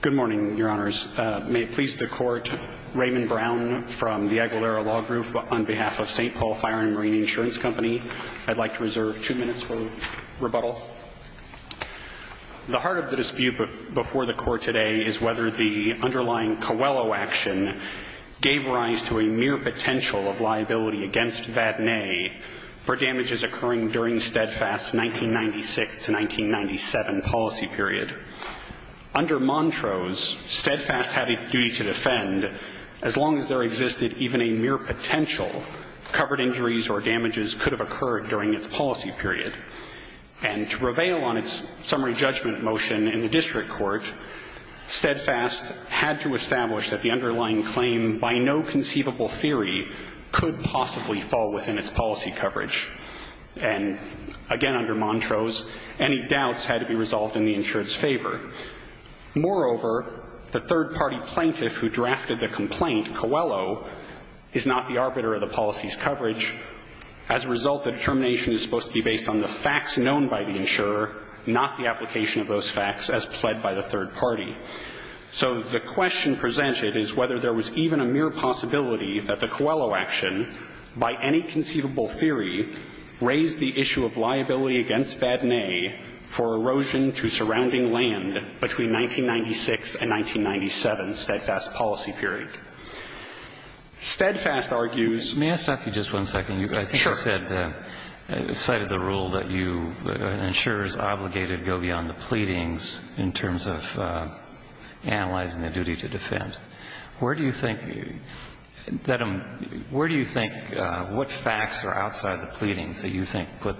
Good morning, Your Honors. May it please the Court, Raymond Brown from the Aguilera Law Group on behalf of St. Paul Fire & Marine Insurance Company. I'd like to reserve two minutes for rebuttal. The heart of the dispute before the Court today is whether the underlying Coelho action gave rise to a mere potential of liability against Vadnais for damages occurring during the steadfast 1996-1997 policy period. Under Montrose, steadfast had a duty to defend as long as there existed even a mere potential covered injuries or damages could have occurred during its policy period. And to prevail on its summary judgment motion in the District Court, steadfast had to establish that the underlying claim, by no conceivable theory, could possibly fall within its policy coverage. And, again, under Montrose, any doubts had to be resolved in the insured's favor. Moreover, the third-party plaintiff who drafted the complaint, Coelho, is not the arbiter of the policy's coverage. As a result, the determination is supposed to be based on the facts known by the insurer, not the application of those facts as pled by the third party. So the question presented is whether there was even a mere possibility that the Coelho action, by any conceivable theory, raised the issue of liability against Vadnais for erosion to surrounding land between 1996 and 1997, steadfast policy period. Steadfast argues ---- Roberts. May I stop you just one second? Sure. I think you said, cited the rule that you, insurers obligated go beyond the pleadings in terms of analyzing the duty to defend. Where do you think that a ---- where do you think what facts are outside the pleadings that you think put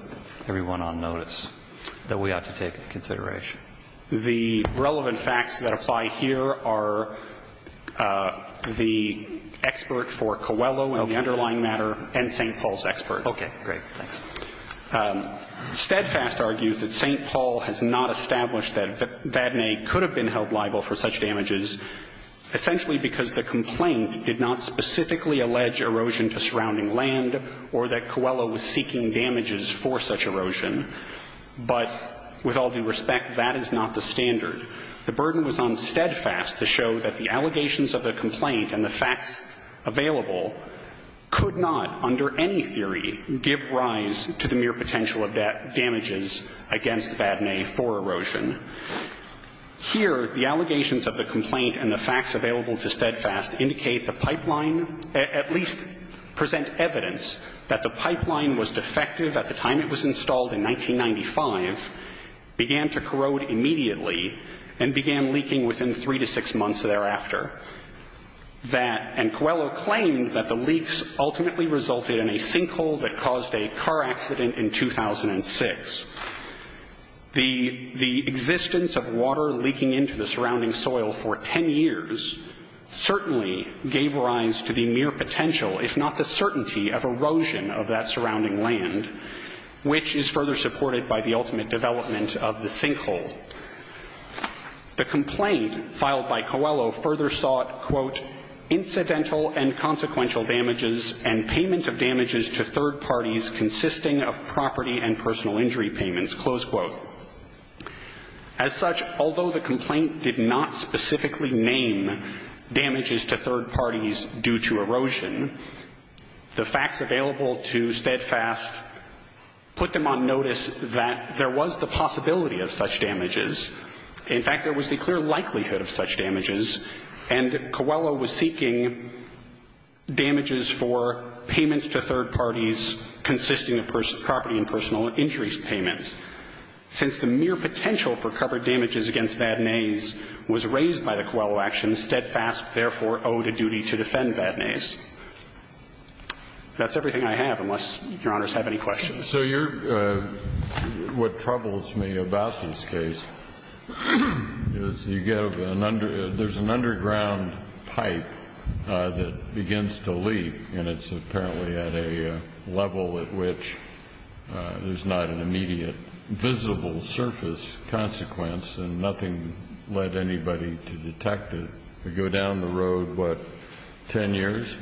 everyone on notice that we ought to take into consideration? The relevant facts that apply here are the expert for Coelho and the underlying matter and St. Paul's expert. Okay. Great. Thanks. Steadfast argues that St. Paul has not established that Vadnais could have been held liable for such damages. Essentially because the complaint did not specifically allege erosion to surrounding land or that Coelho was seeking damages for such erosion. But with all due respect, that is not the standard. The burden was on Steadfast to show that the allegations of the complaint and the facts available could not, under any theory, give rise to the mere potential of damages against Vadnais for erosion. Here, the allegations of the complaint and the facts available to Steadfast indicate the pipeline, at least present evidence that the pipeline was defective at the time it was installed in 1995, began to corrode immediately, and began leaking within three to six months thereafter. That, and Coelho claimed that the leaks ultimately resulted in a sinkhole that caused a car accident in 2006. The existence of water leaking into the surrounding soil for ten years certainly gave rise to the mere potential, if not the certainty, of erosion of that surrounding land, which is further supported by the ultimate development of the sinkhole. The complaint filed by Coelho further sought, quote, incidental and consequential damages and payment of damages to third parties consisting of property and personal injury payments, close quote. As such, although the complaint did not specifically name damages to third parties due to erosion, the facts available to Steadfast put them on notice that there was the possibility of such damages. In fact, there was the clear likelihood of such damages, and Coelho was seeking damages for payments to third parties consisting of property and personal injury payments, since the mere potential for covered damages against Vadnais was raised by the Coelho actions, Steadfast therefore owed a duty to defend Vadnais. That's everything I have, unless Your Honors have any questions. So you're – what troubles me about this case is you give an under – there's an underground pipe that begins to leak, and it's apparently at a level at which there's not an immediate visible surface consequence, and nothing led anybody to detect it. We go down the road, what, ten years?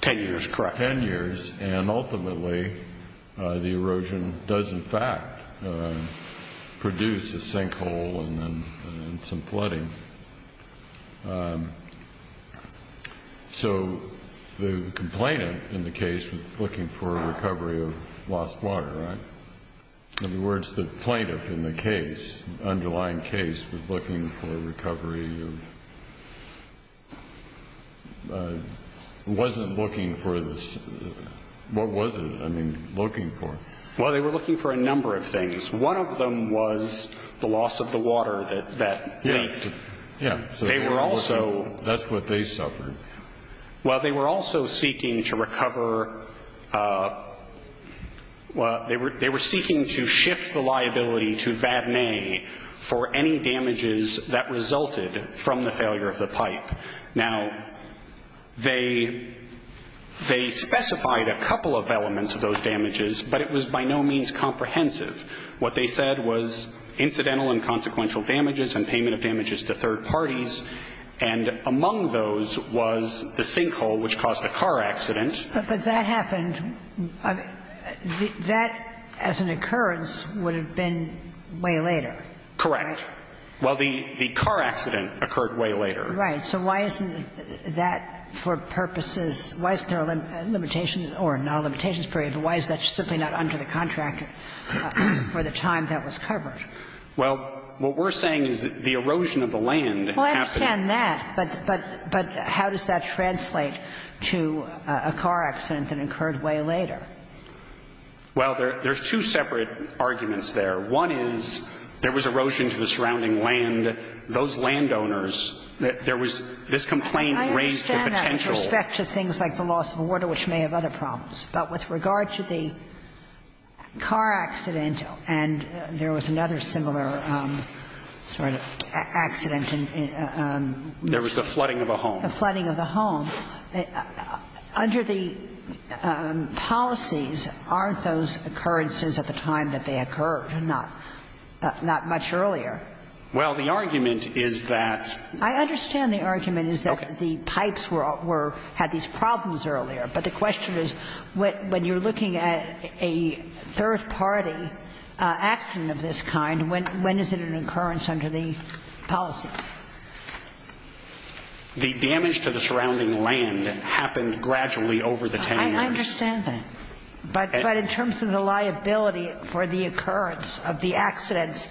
Ten years, correct. Ten years, and ultimately the erosion does in fact produce a sinkhole and some flooding. So the complainant in the case was looking for a recovery of lost water, right? In other words, the plaintiff in the case, underlying case, was looking for a recovery of – wasn't looking for the – what was it, I mean, looking for? Well, they were looking for a number of things. One of them was the loss of the water that leaked. Yeah. They were also – That's what they suffered. Well, they were also seeking to recover – well, they were seeking to shift the liability to Vadnais for any damages that resulted from the failure of the pipe. Now, they specified a couple of elements of those damages, but it was by no means comprehensive. What they said was incidental and consequential damages and payment of damages to third parties, and among those was the sinkhole, which caused a car accident. But that happened – that as an occurrence would have been way later, right? Correct. Well, the car accident occurred way later. Right. So why isn't that for purposes – why isn't there a limitation or non-limitations period? Why is that simply not under the contract for the time that was covered? Well, what we're saying is the erosion of the land happened – Well, I understand that, but how does that translate to a car accident that occurred way later? Well, there's two separate arguments there. One is there was erosion to the surrounding land. Those landowners, there was – this complaint raised the potential – But with regard to the car accident, and there was another similar sort of accident in – There was the flooding of a home. The flooding of a home. Under the policies, aren't those occurrences at the time that they occurred, not much earlier? Well, the argument is that – I understand the argument is that the pipes were – had these problems earlier. But the question is, when you're looking at a third-party accident of this kind, when is it an occurrence under the policy? The damage to the surrounding land happened gradually over the 10 years. I understand that. But in terms of the liability for the occurrence of the accidents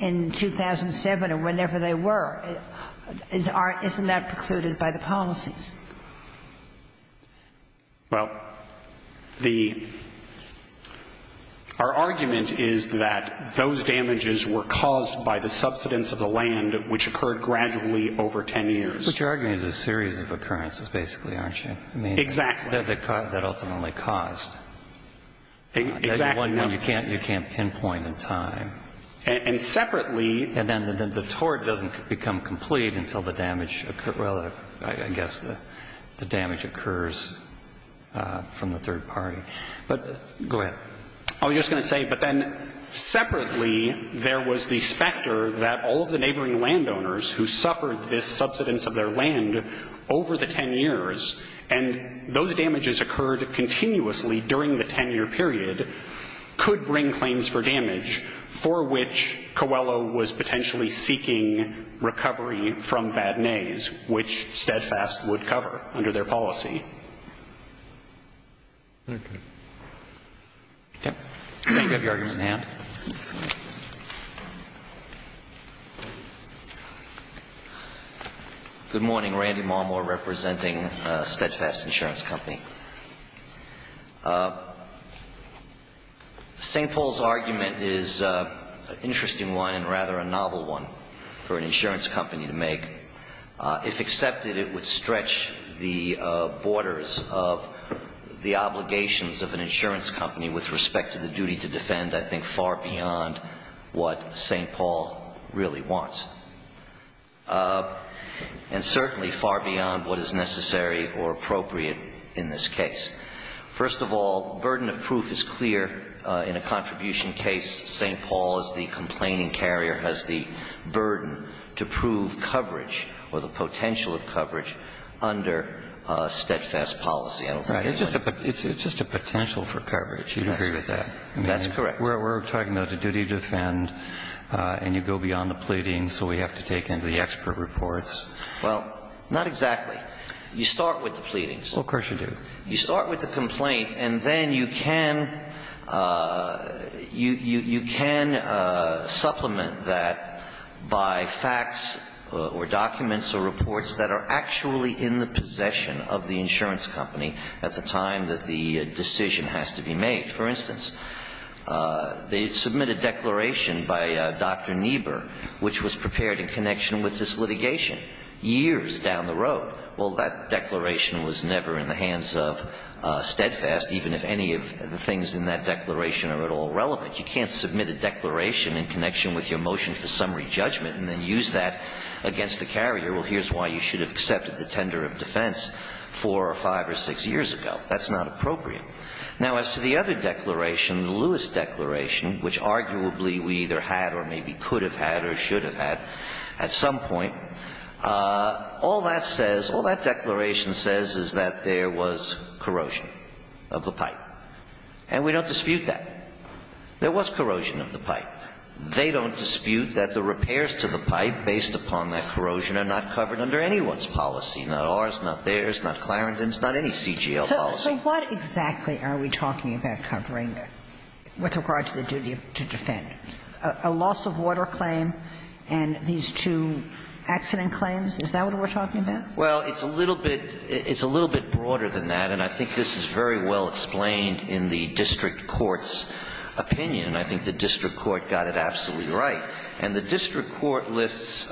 in 2007 or whenever they were, isn't that precluded by the policies? Well, the – our argument is that those damages were caused by the subsidence of the land, which occurred gradually over 10 years. But your argument is a series of occurrences, basically, aren't you? Exactly. I mean, that ultimately caused. Exactly. One you can't pinpoint in time. And separately – And then the tort doesn't become complete until the damage – well, I guess the damage occurs from the third party. But – go ahead. I was just going to say, but then separately there was the specter that all of the neighboring landowners who suffered this subsidence of their land over the 10 years, and those damages occurred continuously during the 10-year period, could bring claims for damage for which Coelho was potentially seeking recovery from Badenais, which Steadfast would cover under their policy. Okay. Tim, do you think you have your argument in hand? Good morning. Randy Marmore representing Steadfast Insurance Company. St. Paul's argument is an interesting one and rather a novel one for an insurance company to make. If accepted, it would stretch the borders of the obligations of an insurance company with respect to the duty to defend, I think, far beyond what St. Paul really wants, and certainly far beyond what is necessary or appropriate in this case. First of all, burden of proof is clear in a contribution case. St. Paul is the complaining carrier, has the burden to prove coverage or the potential of coverage under Steadfast policy. I don't think anyone – Right. It's just a potential for coverage. You'd agree with that. That's correct. We're talking about the duty to defend, and you go beyond the pleading, so we have to take into the expert reports. Well, not exactly. You start with the pleadings. Well, of course you do. You start with the complaint, and then you can supplement that by facts or documents or reports that are actually in the possession of the insurance company at the time that the decision has to be made. For instance, they submit a declaration by Dr. Niebuhr, which was prepared in connection with this litigation years down the road. Well, that declaration was never in the hands of Steadfast, even if any of the things in that declaration are at all relevant. You can't submit a declaration in connection with your motion for summary judgment and then use that against the carrier. Well, here's why you should have accepted the tender of defense four or five or six years ago. That's not appropriate. Now, as to the other declaration, the Lewis declaration, which arguably we either had or maybe could have had or should have had at some point, all that says, all that declaration says is that there was corrosion of the pipe. And we don't dispute that. There was corrosion of the pipe. They don't dispute that the repairs to the pipe based upon that corrosion are not covered under anyone's policy, not ours, not theirs, not Clarendon's, not any CGL policy. So what exactly are we talking about covering with regard to the duty to defend? A loss of water claim and these two accident claims? Is that what we're talking about? Well, it's a little bit broader than that. And I think this is very well explained in the district court's opinion. And I think the district court got it absolutely right. And the district court lists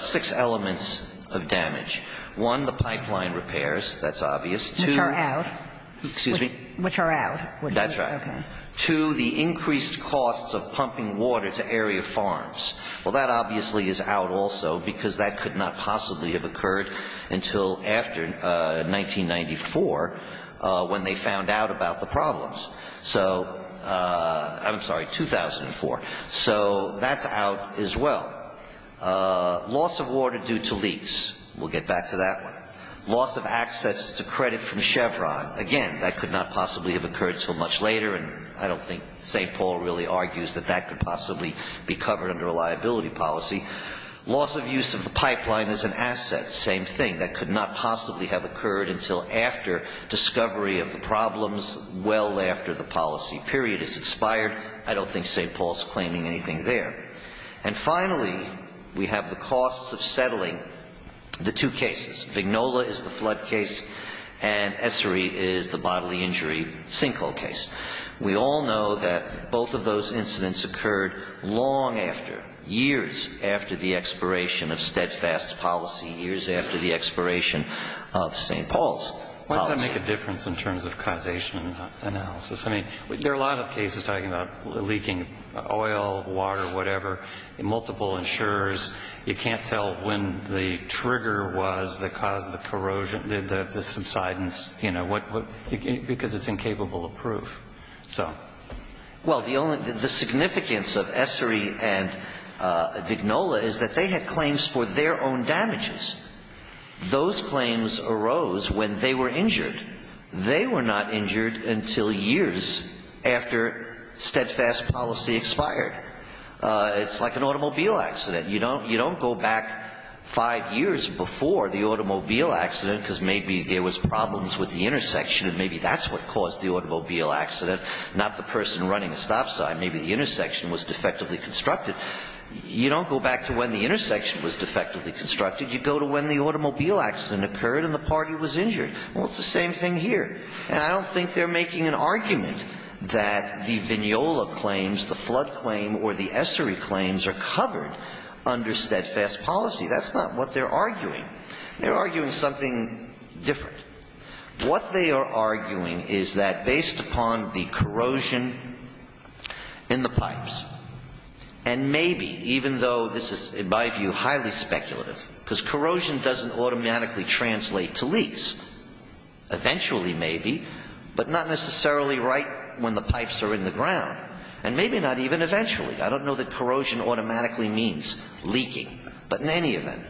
six elements of damage. One, the pipeline repairs. That's obvious. Which are out. Excuse me? Which are out. That's right. Okay. Two, the increased costs of pumping water to area farms. Well, that obviously is out also because that could not possibly have occurred until after 1994 when they found out about the problems. So I'm sorry, 2004. So that's out as well. Loss of water due to leaks. We'll get back to that one. Loss of access to credit from Chevron. Again, that could not possibly have occurred until much later. And I don't think St. Paul really argues that that could possibly be covered under a liability policy. Loss of use of the pipeline as an asset. Same thing. That could not possibly have occurred until after discovery of the problems well after the policy period is expired. I don't think St. Paul's claiming anything there. And finally, we have the costs of settling the two cases. Vignola is the flood case and Essary is the bodily injury sinkhole case. We all know that both of those incidents occurred long after, years after the expiration of steadfast policy, years after the expiration of St. Paul's policy. Why does that make a difference in terms of causation analysis? I mean, there are a lot of cases talking about leaking oil, water, whatever, multiple insurers. You can't tell when the trigger was that caused the corrosion, the subsidence, you know, because it's incapable of proof. So. Well, the significance of Essary and Vignola is that they had claims for their own damages. Those claims arose when they were injured. They were not injured until years after steadfast policy expired. It's like an automobile accident. You don't go back five years before the automobile accident because maybe there was problems with the intersection and maybe that's what caused the automobile accident, not the person running a stop sign. Maybe the intersection was defectively constructed. You don't go back to when the intersection was defectively constructed. You go to when the automobile accident occurred and the party was injured. Well, it's the same thing here. And I don't think they're making an argument that the Vignola claims, the flood claim, or the Essary claims are covered under steadfast policy. That's not what they're arguing. They're arguing something different. What they are arguing is that based upon the corrosion in the pipes, and maybe, even though this is, in my view, highly speculative, because corrosion doesn't automatically translate to leaks. Eventually, maybe, but not necessarily right when the pipes are in the ground. And maybe not even eventually. I don't know that corrosion automatically means leaking, but in any event.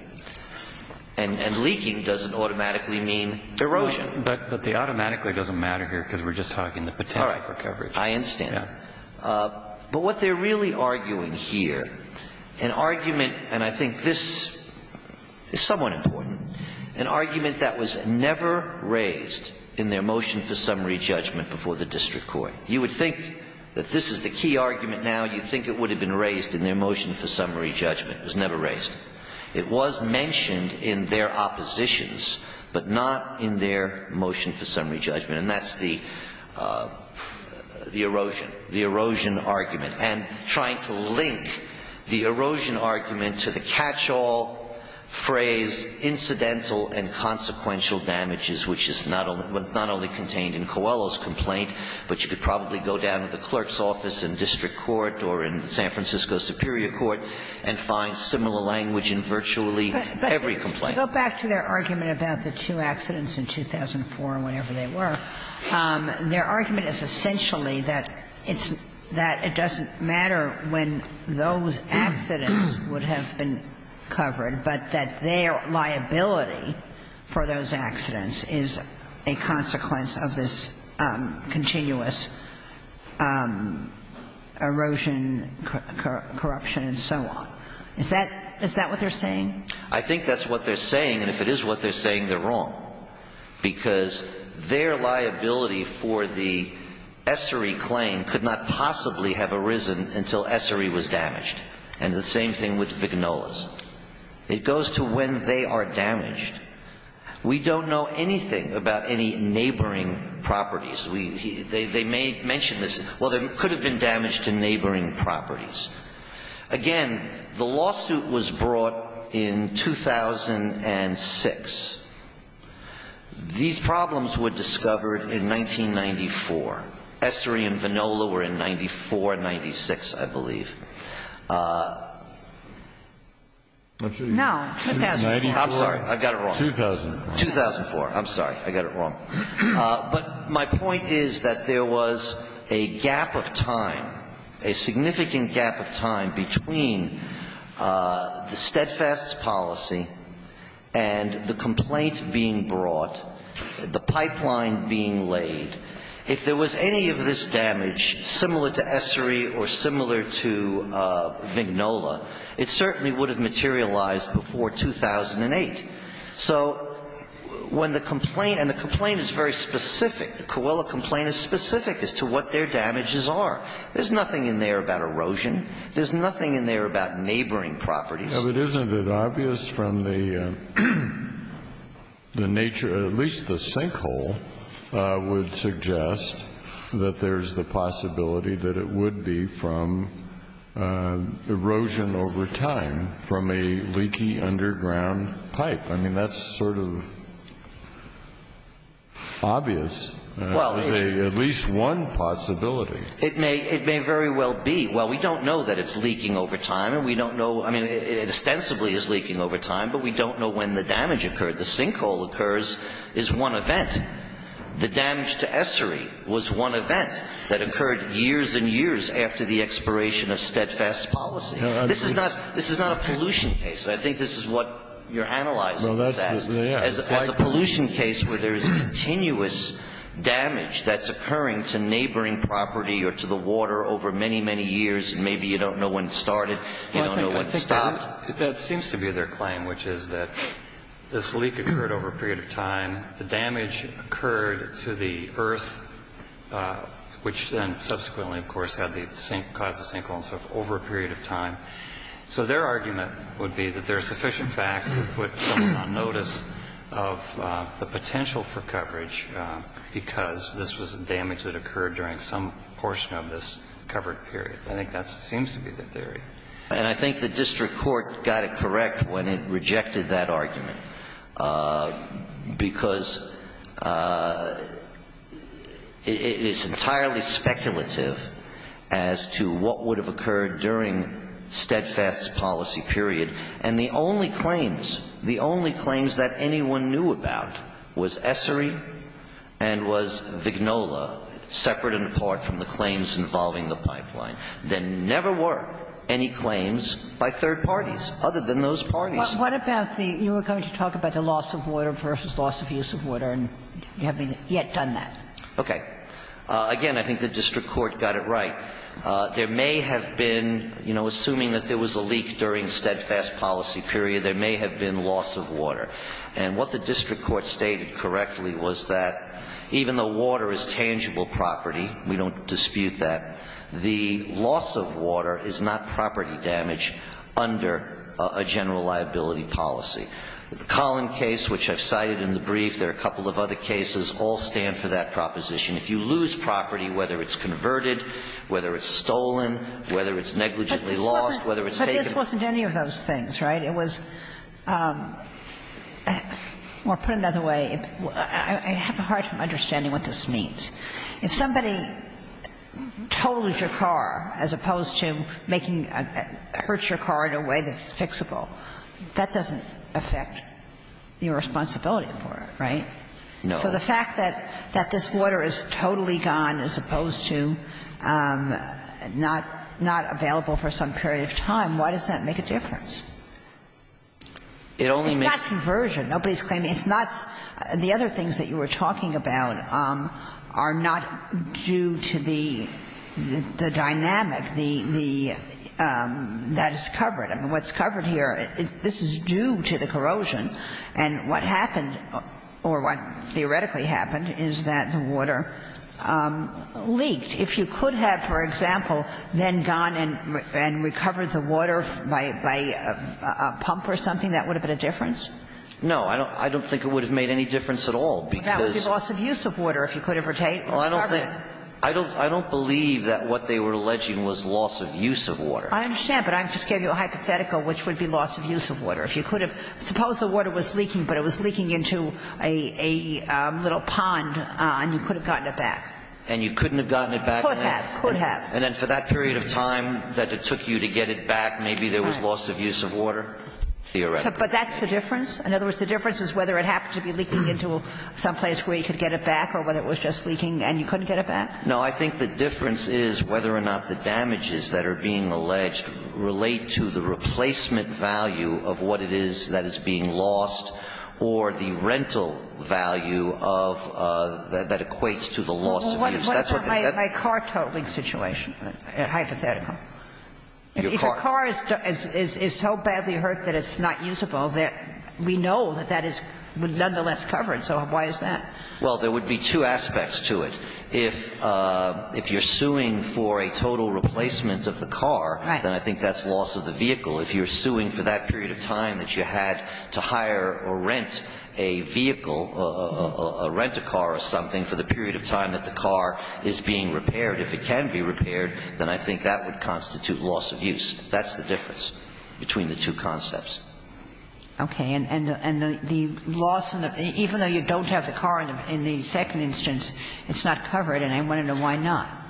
And leaking doesn't automatically mean erosion. But the automatically doesn't matter here because we're just talking the potential for coverage. All right. I understand. But what they're really arguing here, an argument, and I think this is somewhat important, an argument that was never raised in their motion for summary judgment before the district court. You would think that this is the key argument now. You'd think it would have been raised in their motion for summary judgment. It was never raised. It was mentioned in their oppositions, but not in their motion for summary judgment. And that's the erosion, the erosion argument. And trying to link the erosion argument to the catch-all phrase, incidental and consequential damages, which is not only contained in Coelho's complaint, but you could probably go down to the clerk's office in district court or in San Francisco Superior Court and find similar language in virtually every complaint. Go back to their argument about the two accidents in 2004 or whenever they were. Their argument is essentially that it's that it doesn't matter when those accidents would have been covered, but that their liability for those accidents is a consequence of this continuous erosion, corruption and so on. Is that what they're saying? I think that's what they're saying. And if it is what they're saying, they're wrong, because their liability for the Essary claim could not possibly have arisen until Essary was damaged. And the same thing with Viganola's. It goes to when they are damaged. We don't know anything about any neighboring properties. They may mention this. Well, there could have been damage to neighboring properties. Again, the lawsuit was brought in 2006. These problems were discovered in 1994. Essary and Viganola were in 94, 96, I believe. No. I'm sorry. I got it wrong. 2004. I'm sorry. I got it wrong. But my point is that there was a gap of time, a significant gap of time between the steadfast policy and the complaint being brought, the pipeline being laid. If there was any of this damage similar to Essary or similar to Viganola, it certainly would have materialized before 2008. So when the complaint, and the complaint is very specific, the Coelho complaint is specific as to what their damages are. There's nothing in there about erosion. There's nothing in there about neighboring properties. Isn't it obvious from the nature, at least the sinkhole would suggest that there's a possibility that it would be from erosion over time from a leaky underground pipe? I mean, that's sort of obvious. There's at least one possibility. It may very well be. Well, we don't know that it's leaking over time, and we don't know. I mean, it ostensibly is leaking over time, but we don't know when the damage occurred. The sinkhole occurs is one event. The damage to Essary was one event that occurred years and years after the expiration of steadfast policy. This is not a pollution case. I think this is what you're analyzing. As a pollution case where there's continuous damage that's occurring to neighboring property or to the water over many, many years, and maybe you don't know when it started, you don't know when it stopped. That seems to be their claim, which is that this leak occurred over a period of time. The damage occurred to the earth, which then subsequently, of course, had the sink caused the sinkhole and so forth over a period of time. So their argument would be that there are sufficient facts to put someone on notice of the potential for coverage because this was damage that occurred during some portion of this covered period. I think that seems to be the theory. And I think the district court got it correct when it rejected that argument because it is entirely speculative as to what would have occurred during steadfast policy period. And the only claims, the only claims that anyone knew about was Essary and was Vignola, separate and apart from the claims involving the pipeline. There never were any claims by third parties other than those parties. What about the – you were going to talk about the loss of water versus loss of use of water, and you haven't yet done that. Okay. Again, I think the district court got it right. There may have been, you know, assuming that there was a leak during steadfast policy period, there may have been loss of water. And what the district court stated correctly was that even though water is tangible property, we don't dispute that, the loss of water is not property damage under a general liability policy. The Collin case, which I've cited in the brief, there are a couple of other cases, all stand for that proposition. If you lose property, whether it's converted, whether it's stolen, whether it's negligently lost, whether it's taken. But this wasn't any of those things, right? It was – or put another way, I have a hard time understanding what this means. If somebody totals your car as opposed to making – hurts your car in a way that's fixable, that doesn't affect your responsibility for it, right? No. So the fact that this water is totally gone as opposed to not available for some period of time, why does that make a difference? It only makes – It's not conversion. Nobody's claiming – it's not – the other things that you were talking about are not due to the dynamic, the – that is covered. I mean, what's covered here, this is due to the corrosion. And what happened, or what theoretically happened, is that the water leaked. If you could have, for example, then gone and recovered the water by a pump or something, that would have been a difference? No. I don't think it would have made any difference at all. That would be loss of use of water if you could have recovered it. Well, I don't think – I don't believe that what they were alleging was loss of use of water. I understand. But I just gave you a hypothetical, which would be loss of use of water. If you could have – suppose the water was leaking, but it was leaking into a little pond and you could have gotten it back. And you couldn't have gotten it back. Could have, could have. And then for that period of time that it took you to get it back, maybe there was loss of use of water, theoretically. But that's the difference? In other words, the difference is whether it happened to be leaking into some place where you could get it back or whether it was just leaking and you couldn't get it back. No. I think the difference is whether or not the damages that are being alleged relate to the replacement value of what it is that is being lost or the rental value of – that equates to the loss of use. That's what the – that's the difference. Well, what about my car towing situation? Hypothetically. Your car. Your car is so badly hurt that it's not usable that we know that that is nonetheless covered. So why is that? Well, there would be two aspects to it. If you're suing for a total replacement of the car, then I think that's loss of the vehicle. If you're suing for that period of time that you had to hire or rent a vehicle, rent a car or something for the period of time that the car is being repaired, if it can be repaired, then I think that would constitute loss of use. That's the difference between the two concepts. Okay. And the loss of – even though you don't have the car in the second instance, it's not covered, and I want to know why not.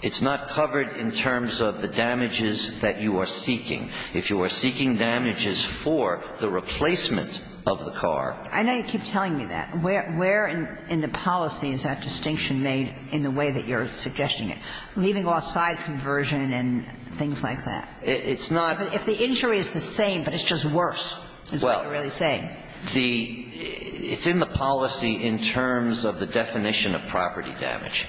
It's not covered in terms of the damages that you are seeking. If you are seeking damages for the replacement of the car – I know you keep telling me that. Where in the policy is that distinction made in the way that you're suggesting it, leaving off side conversion and things like that? It's not – If the injury is the same, but it's just worse, is what you're really saying. Well, the – it's in the policy in terms of the definition of property damage,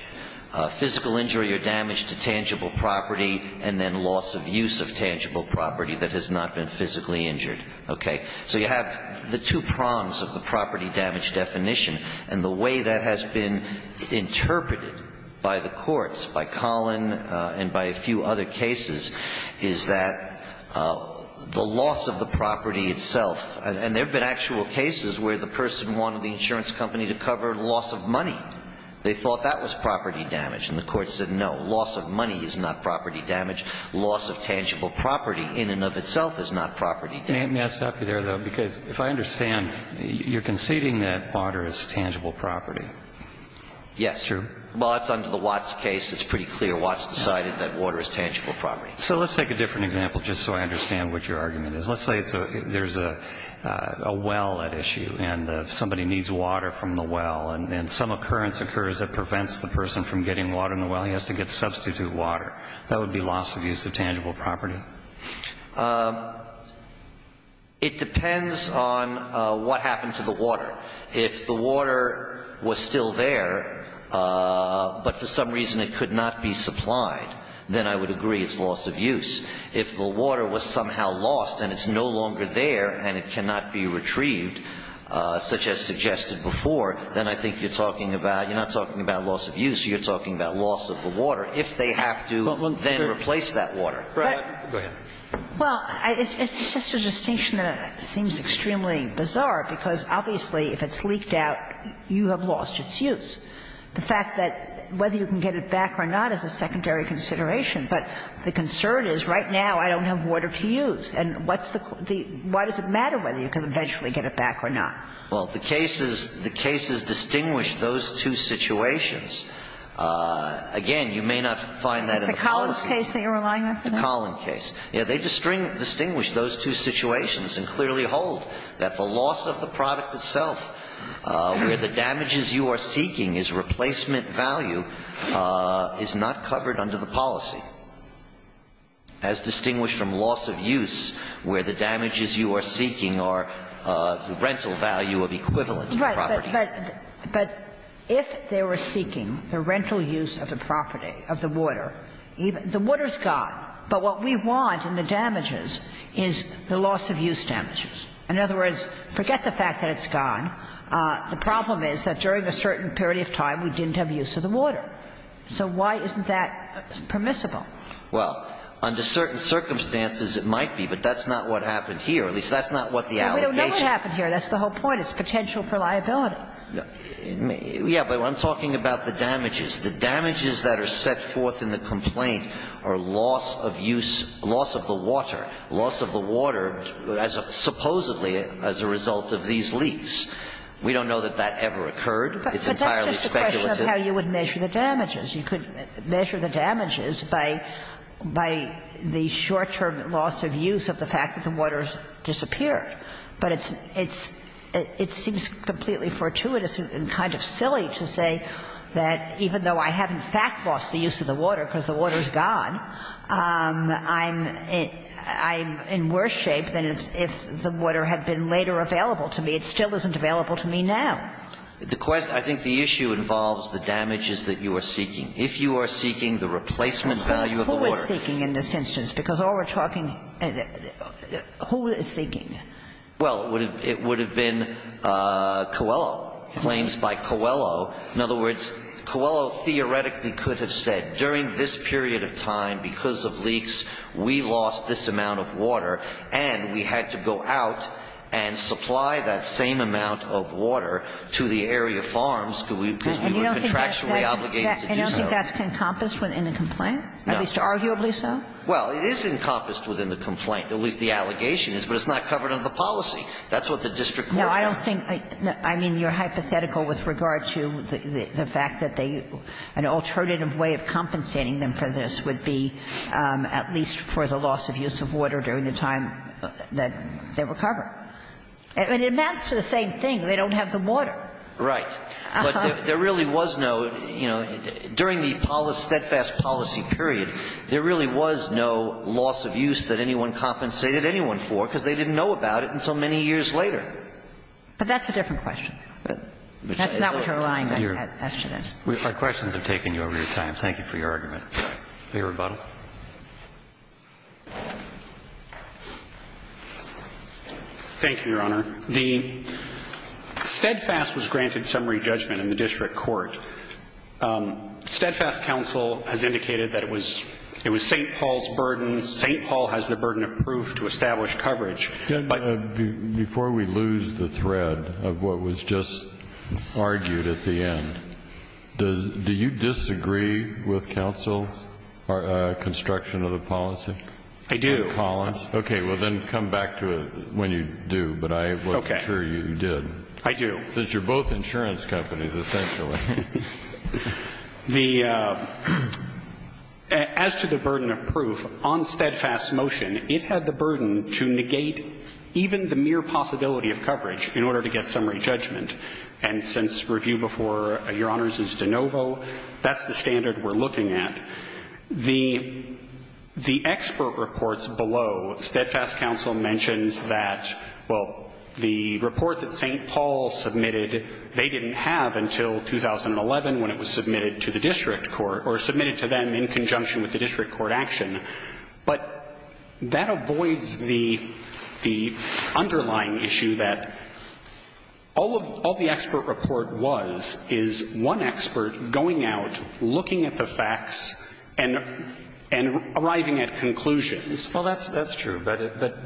physical injury or damage to tangible property, and then loss of use of tangible property that has not been physically injured. Okay. So you have the two prongs of the property damage definition, and the way that has been interpreted by the courts, by Collin and by a few other cases, is that the loss of the property itself – and there have been actual cases where the person wanted the insurance company to cover loss of money. They thought that was property damage. And the Court said no, loss of money is not property damage. Loss of tangible property in and of itself is not property damage. May I stop you there, though? Because if I understand, you're conceding that water is tangible property. Yes. True. Well, that's under the Watts case. It's pretty clear. Watts decided that water is tangible property. So let's take a different example, just so I understand what your argument is. Let's say there's a well at issue, and somebody needs water from the well, and some occurrence occurs that prevents the person from getting water in the well. He has to get substitute water. That would be loss of use of tangible property. It depends on what happened to the water. If the water was still there, but for some reason it could not be supplied, then I would agree it's loss of use. If the water was somehow lost and it's no longer there and it cannot be retrieved, such as suggested before, then I think you're talking about – you're not talking about loss of use. You're talking about loss of the water, if they have to then replace that water. Go ahead. Well, it's just a distinction that seems extremely bizarre, because obviously if it's leaked out, you have lost its use. The fact that whether you can get it back or not is a secondary consideration. But the concern is right now I don't have water to use. And what's the – why does it matter whether you can eventually get it back or not? Well, the cases – the cases distinguish those two situations. Again, you may not find that in the policy. It's the Collins case that you're relying on for that? The Collins case. They distinguish those two situations and clearly hold that the loss of the product itself, where the damages you are seeking is replacement value, is not covered under the policy, as distinguished from loss of use, where the damages you are seeking are the rental value of equivalent property. Right. But if they were seeking the rental use of the property, of the water, the water's gone, but what we want in the damages is the loss of use damages. In other words, forget the fact that it's gone. The problem is that during a certain period of time we didn't have use of the water. So why isn't that permissible? Well, under certain circumstances it might be, but that's not what happened here. At least, that's not what the allocation – Well, we don't know what happened here. That's the whole point. It's potential for liability. Yeah, but I'm talking about the damages. The damages that are set forth in the complaint are loss of use – loss of the water, loss of the water supposedly as a result of these leaks. We don't know that that ever occurred. It's entirely speculative. But that's just a question of how you would measure the damages. You could measure the damages by the short-term loss of use of the fact that the water has disappeared. But it's – it seems completely fortuitous and kind of silly to say that even though I haven't in fact lost the use of the water because the water is gone, I'm in worse shape than if the water had been later available to me. It still isn't available to me now. The question – I think the issue involves the damages that you are seeking. If you are seeking the replacement value of the water – Who is seeking in this instance? Because all we're talking – who is seeking? Well, it would have been Coelho. Claims by Coelho. In other words, Coelho theoretically could have said during this period of time because of leaks we lost this amount of water and we had to go out and supply that same amount of water to the area farms because we were contractually obligated to do so. And you don't think that's encompassed within the complaint? No. At least arguably so? Well, it is encompassed within the complaint, at least the allegation is, but it's not covered under the policy. That's what the district court does. Well, I don't think – I mean, you're hypothetical with regard to the fact that they – an alternative way of compensating them for this would be at least for the loss of use of water during the time that they recover. And it amounts to the same thing. They don't have the water. Right. But there really was no – you know, during the steadfast policy period, there really was no loss of use that anyone compensated anyone for because they didn't know about it until many years later. But that's a different question. That's not what you're allying with. Our questions have taken you over your time. Thank you for your argument. Your rebuttal. Thank you, Your Honor. The steadfast was granted summary judgment in the district court. Steadfast counsel has indicated that it was – it was St. Paul's burden. St. Paul has the burden of proof to establish coverage. Before we lose the thread of what was just argued at the end, does – do you disagree with counsel's construction of the policy? I do. Okay. Well, then come back to it when you do. But I wasn't sure you did. I do. Since you're both insurance companies, essentially. The – as to the burden of proof, on steadfast motion, it had the burden to negate even the mere possibility of coverage in order to get summary judgment. And since review before Your Honors is de novo, that's the standard we're looking at. The expert reports below, steadfast counsel mentions that, well, the report that St. Paul submitted, they didn't have until 2011 when it was submitted to the district court, or submitted to them in conjunction with the district court action. But that avoids the – the underlying issue that all of – all the expert report was is one expert going out, looking at the facts, and – and arriving at conclusions. Well, that's – that's true. But – but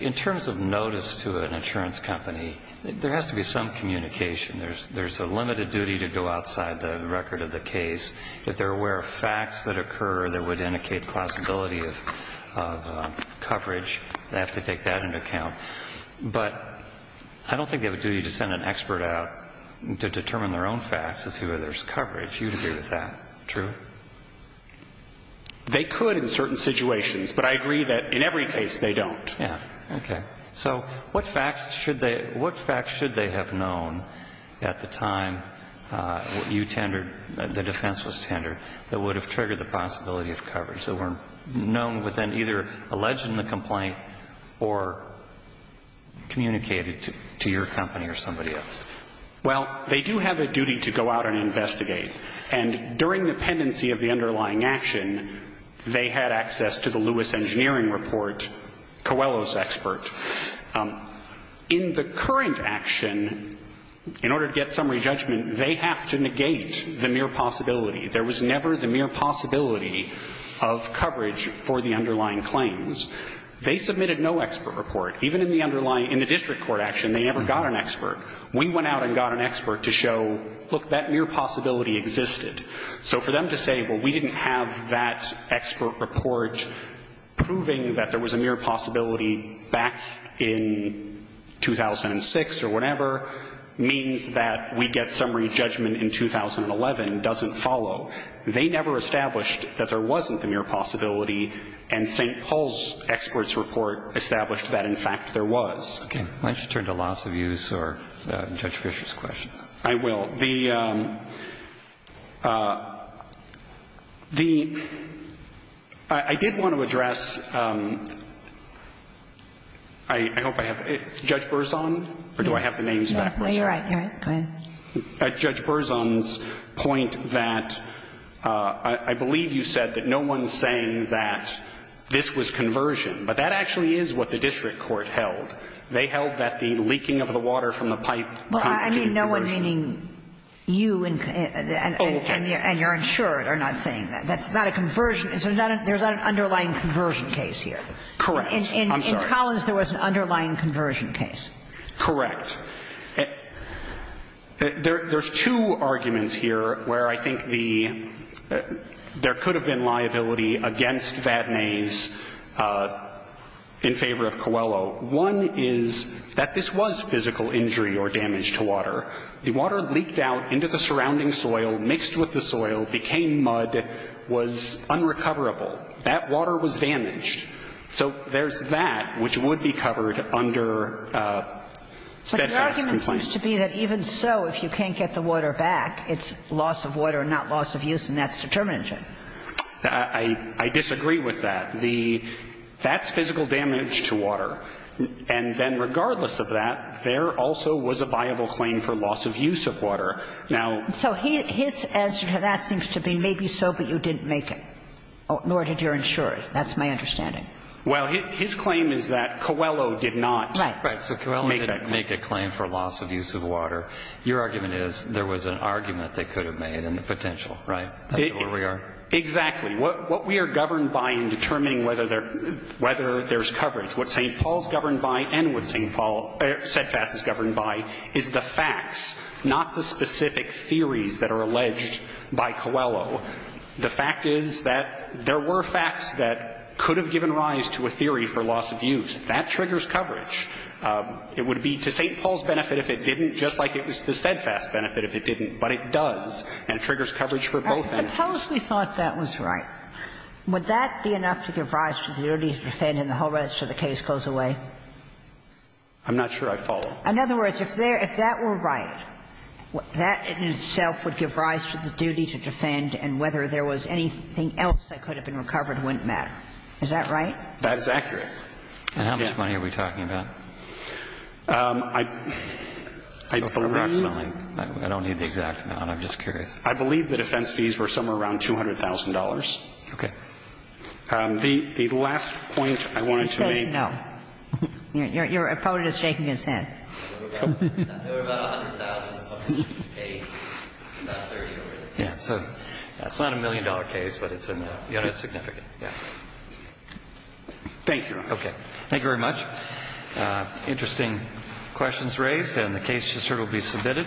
in terms of notice to an insurance company, there has to be some communication. There's – there's a limited duty to go outside the record of the case. If they're aware of facts that occur that would indicate possibility of – of coverage, they have to take that into account. But I don't think they have a duty to send an expert out to determine their own facts to see whether there's coverage. You disagree with that. True? They could in certain situations. But I agree that in every case, they don't. Yeah. Okay. So what facts should they – what facts should they have known at the time you tendered – the defense was tendered that would have triggered the possibility of coverage, that were known within either alleged in the complaint or communicated to – to your company or somebody else? Well, they do have a duty to go out and investigate. And during the pendency of the underlying action, they had access to the Lewis engineering report, Coelho's expert. In the current action, in order to get summary judgment, they have to negate the mere possibility. There was never the mere possibility of coverage for the underlying claims. They submitted no expert report. Even in the underlying – in the district court action, they never got an expert. We went out and got an expert to show, look, that mere possibility existed. So for them to say, well, we didn't have that expert report proving that there was a mere possibility back in 2006 or whenever means that we get summary judgment in 2011 doesn't follow. They never established that there wasn't the mere possibility. And St. Paul's expert's report established that, in fact, there was. Okay. Why don't you turn to loss of use or Judge Fischer's question? I will. The – the – I did want to address – I hope I have – Judge Berzon? Or do I have the names back? No, you're right. You're right. Go ahead. At Judge Berzon's point that I believe you said that no one's saying that this was conversion. But that actually is what the district court held. They held that the leaking of the water from the pipe constituted conversion. Well, I mean no one meaning you and your insured are not saying that. That's not a conversion. There's not an underlying conversion case here. Correct. I'm sorry. In Collins, there was an underlying conversion case. Correct. There's two arguments here where I think the – there could have been liability against Vatnay's in favor of Coelho. One is that this was physical injury or damage to water. The water leaked out into the surrounding soil, mixed with the soil, became mud, was unrecoverable. That water was damaged. So there's that, which would be covered under steadfast complaint. But the argument seems to be that even so, if you can't get the water back, it's loss of water and not loss of use, and that's determination. I disagree with that. The – that's physical damage to water. And then regardless of that, there also was a viable claim for loss of use of water. Now – So his answer to that seems to be maybe so, but you didn't make it, nor did your insured. That's my understanding. Well, his claim is that Coelho did not make that claim. Right. So Coelho didn't make a claim for loss of use of water. Your argument is there was an argument they could have made in the potential, right? That's where we are? Exactly. What we are governed by in determining whether there's coverage, what St. Paul's governed by and what St. Paul – steadfast is governed by is the facts, not the specific theories that are alleged by Coelho. The fact is that there were facts that could have given rise to a theory for loss of use. That triggers coverage. It would be to St. Paul's benefit if it didn't, just like it was to steadfast benefit if it didn't. But it does, and it triggers coverage for both entities. I supposedly thought that was right. Would that be enough to give rise to the duty to defend and the whole rest of the case goes away? I'm not sure I follow. In other words, if that were right, that in itself would give rise to the duty to defend, and whether there was anything else that could have been recovered wouldn't matter. Is that right? That is accurate. And how much money are we talking about? Approximately. I don't need the exact amount. I'm just curious. I believe the defense fees were somewhere around $200,000. Okay. The last point I wanted to make – He says no. Your opponent is shaking his head. It was about $100,000. So it's not a million-dollar case, but it's significant. Thank you. Okay. Thank you very much. Interesting questions raised, and the case just heard will be submitted.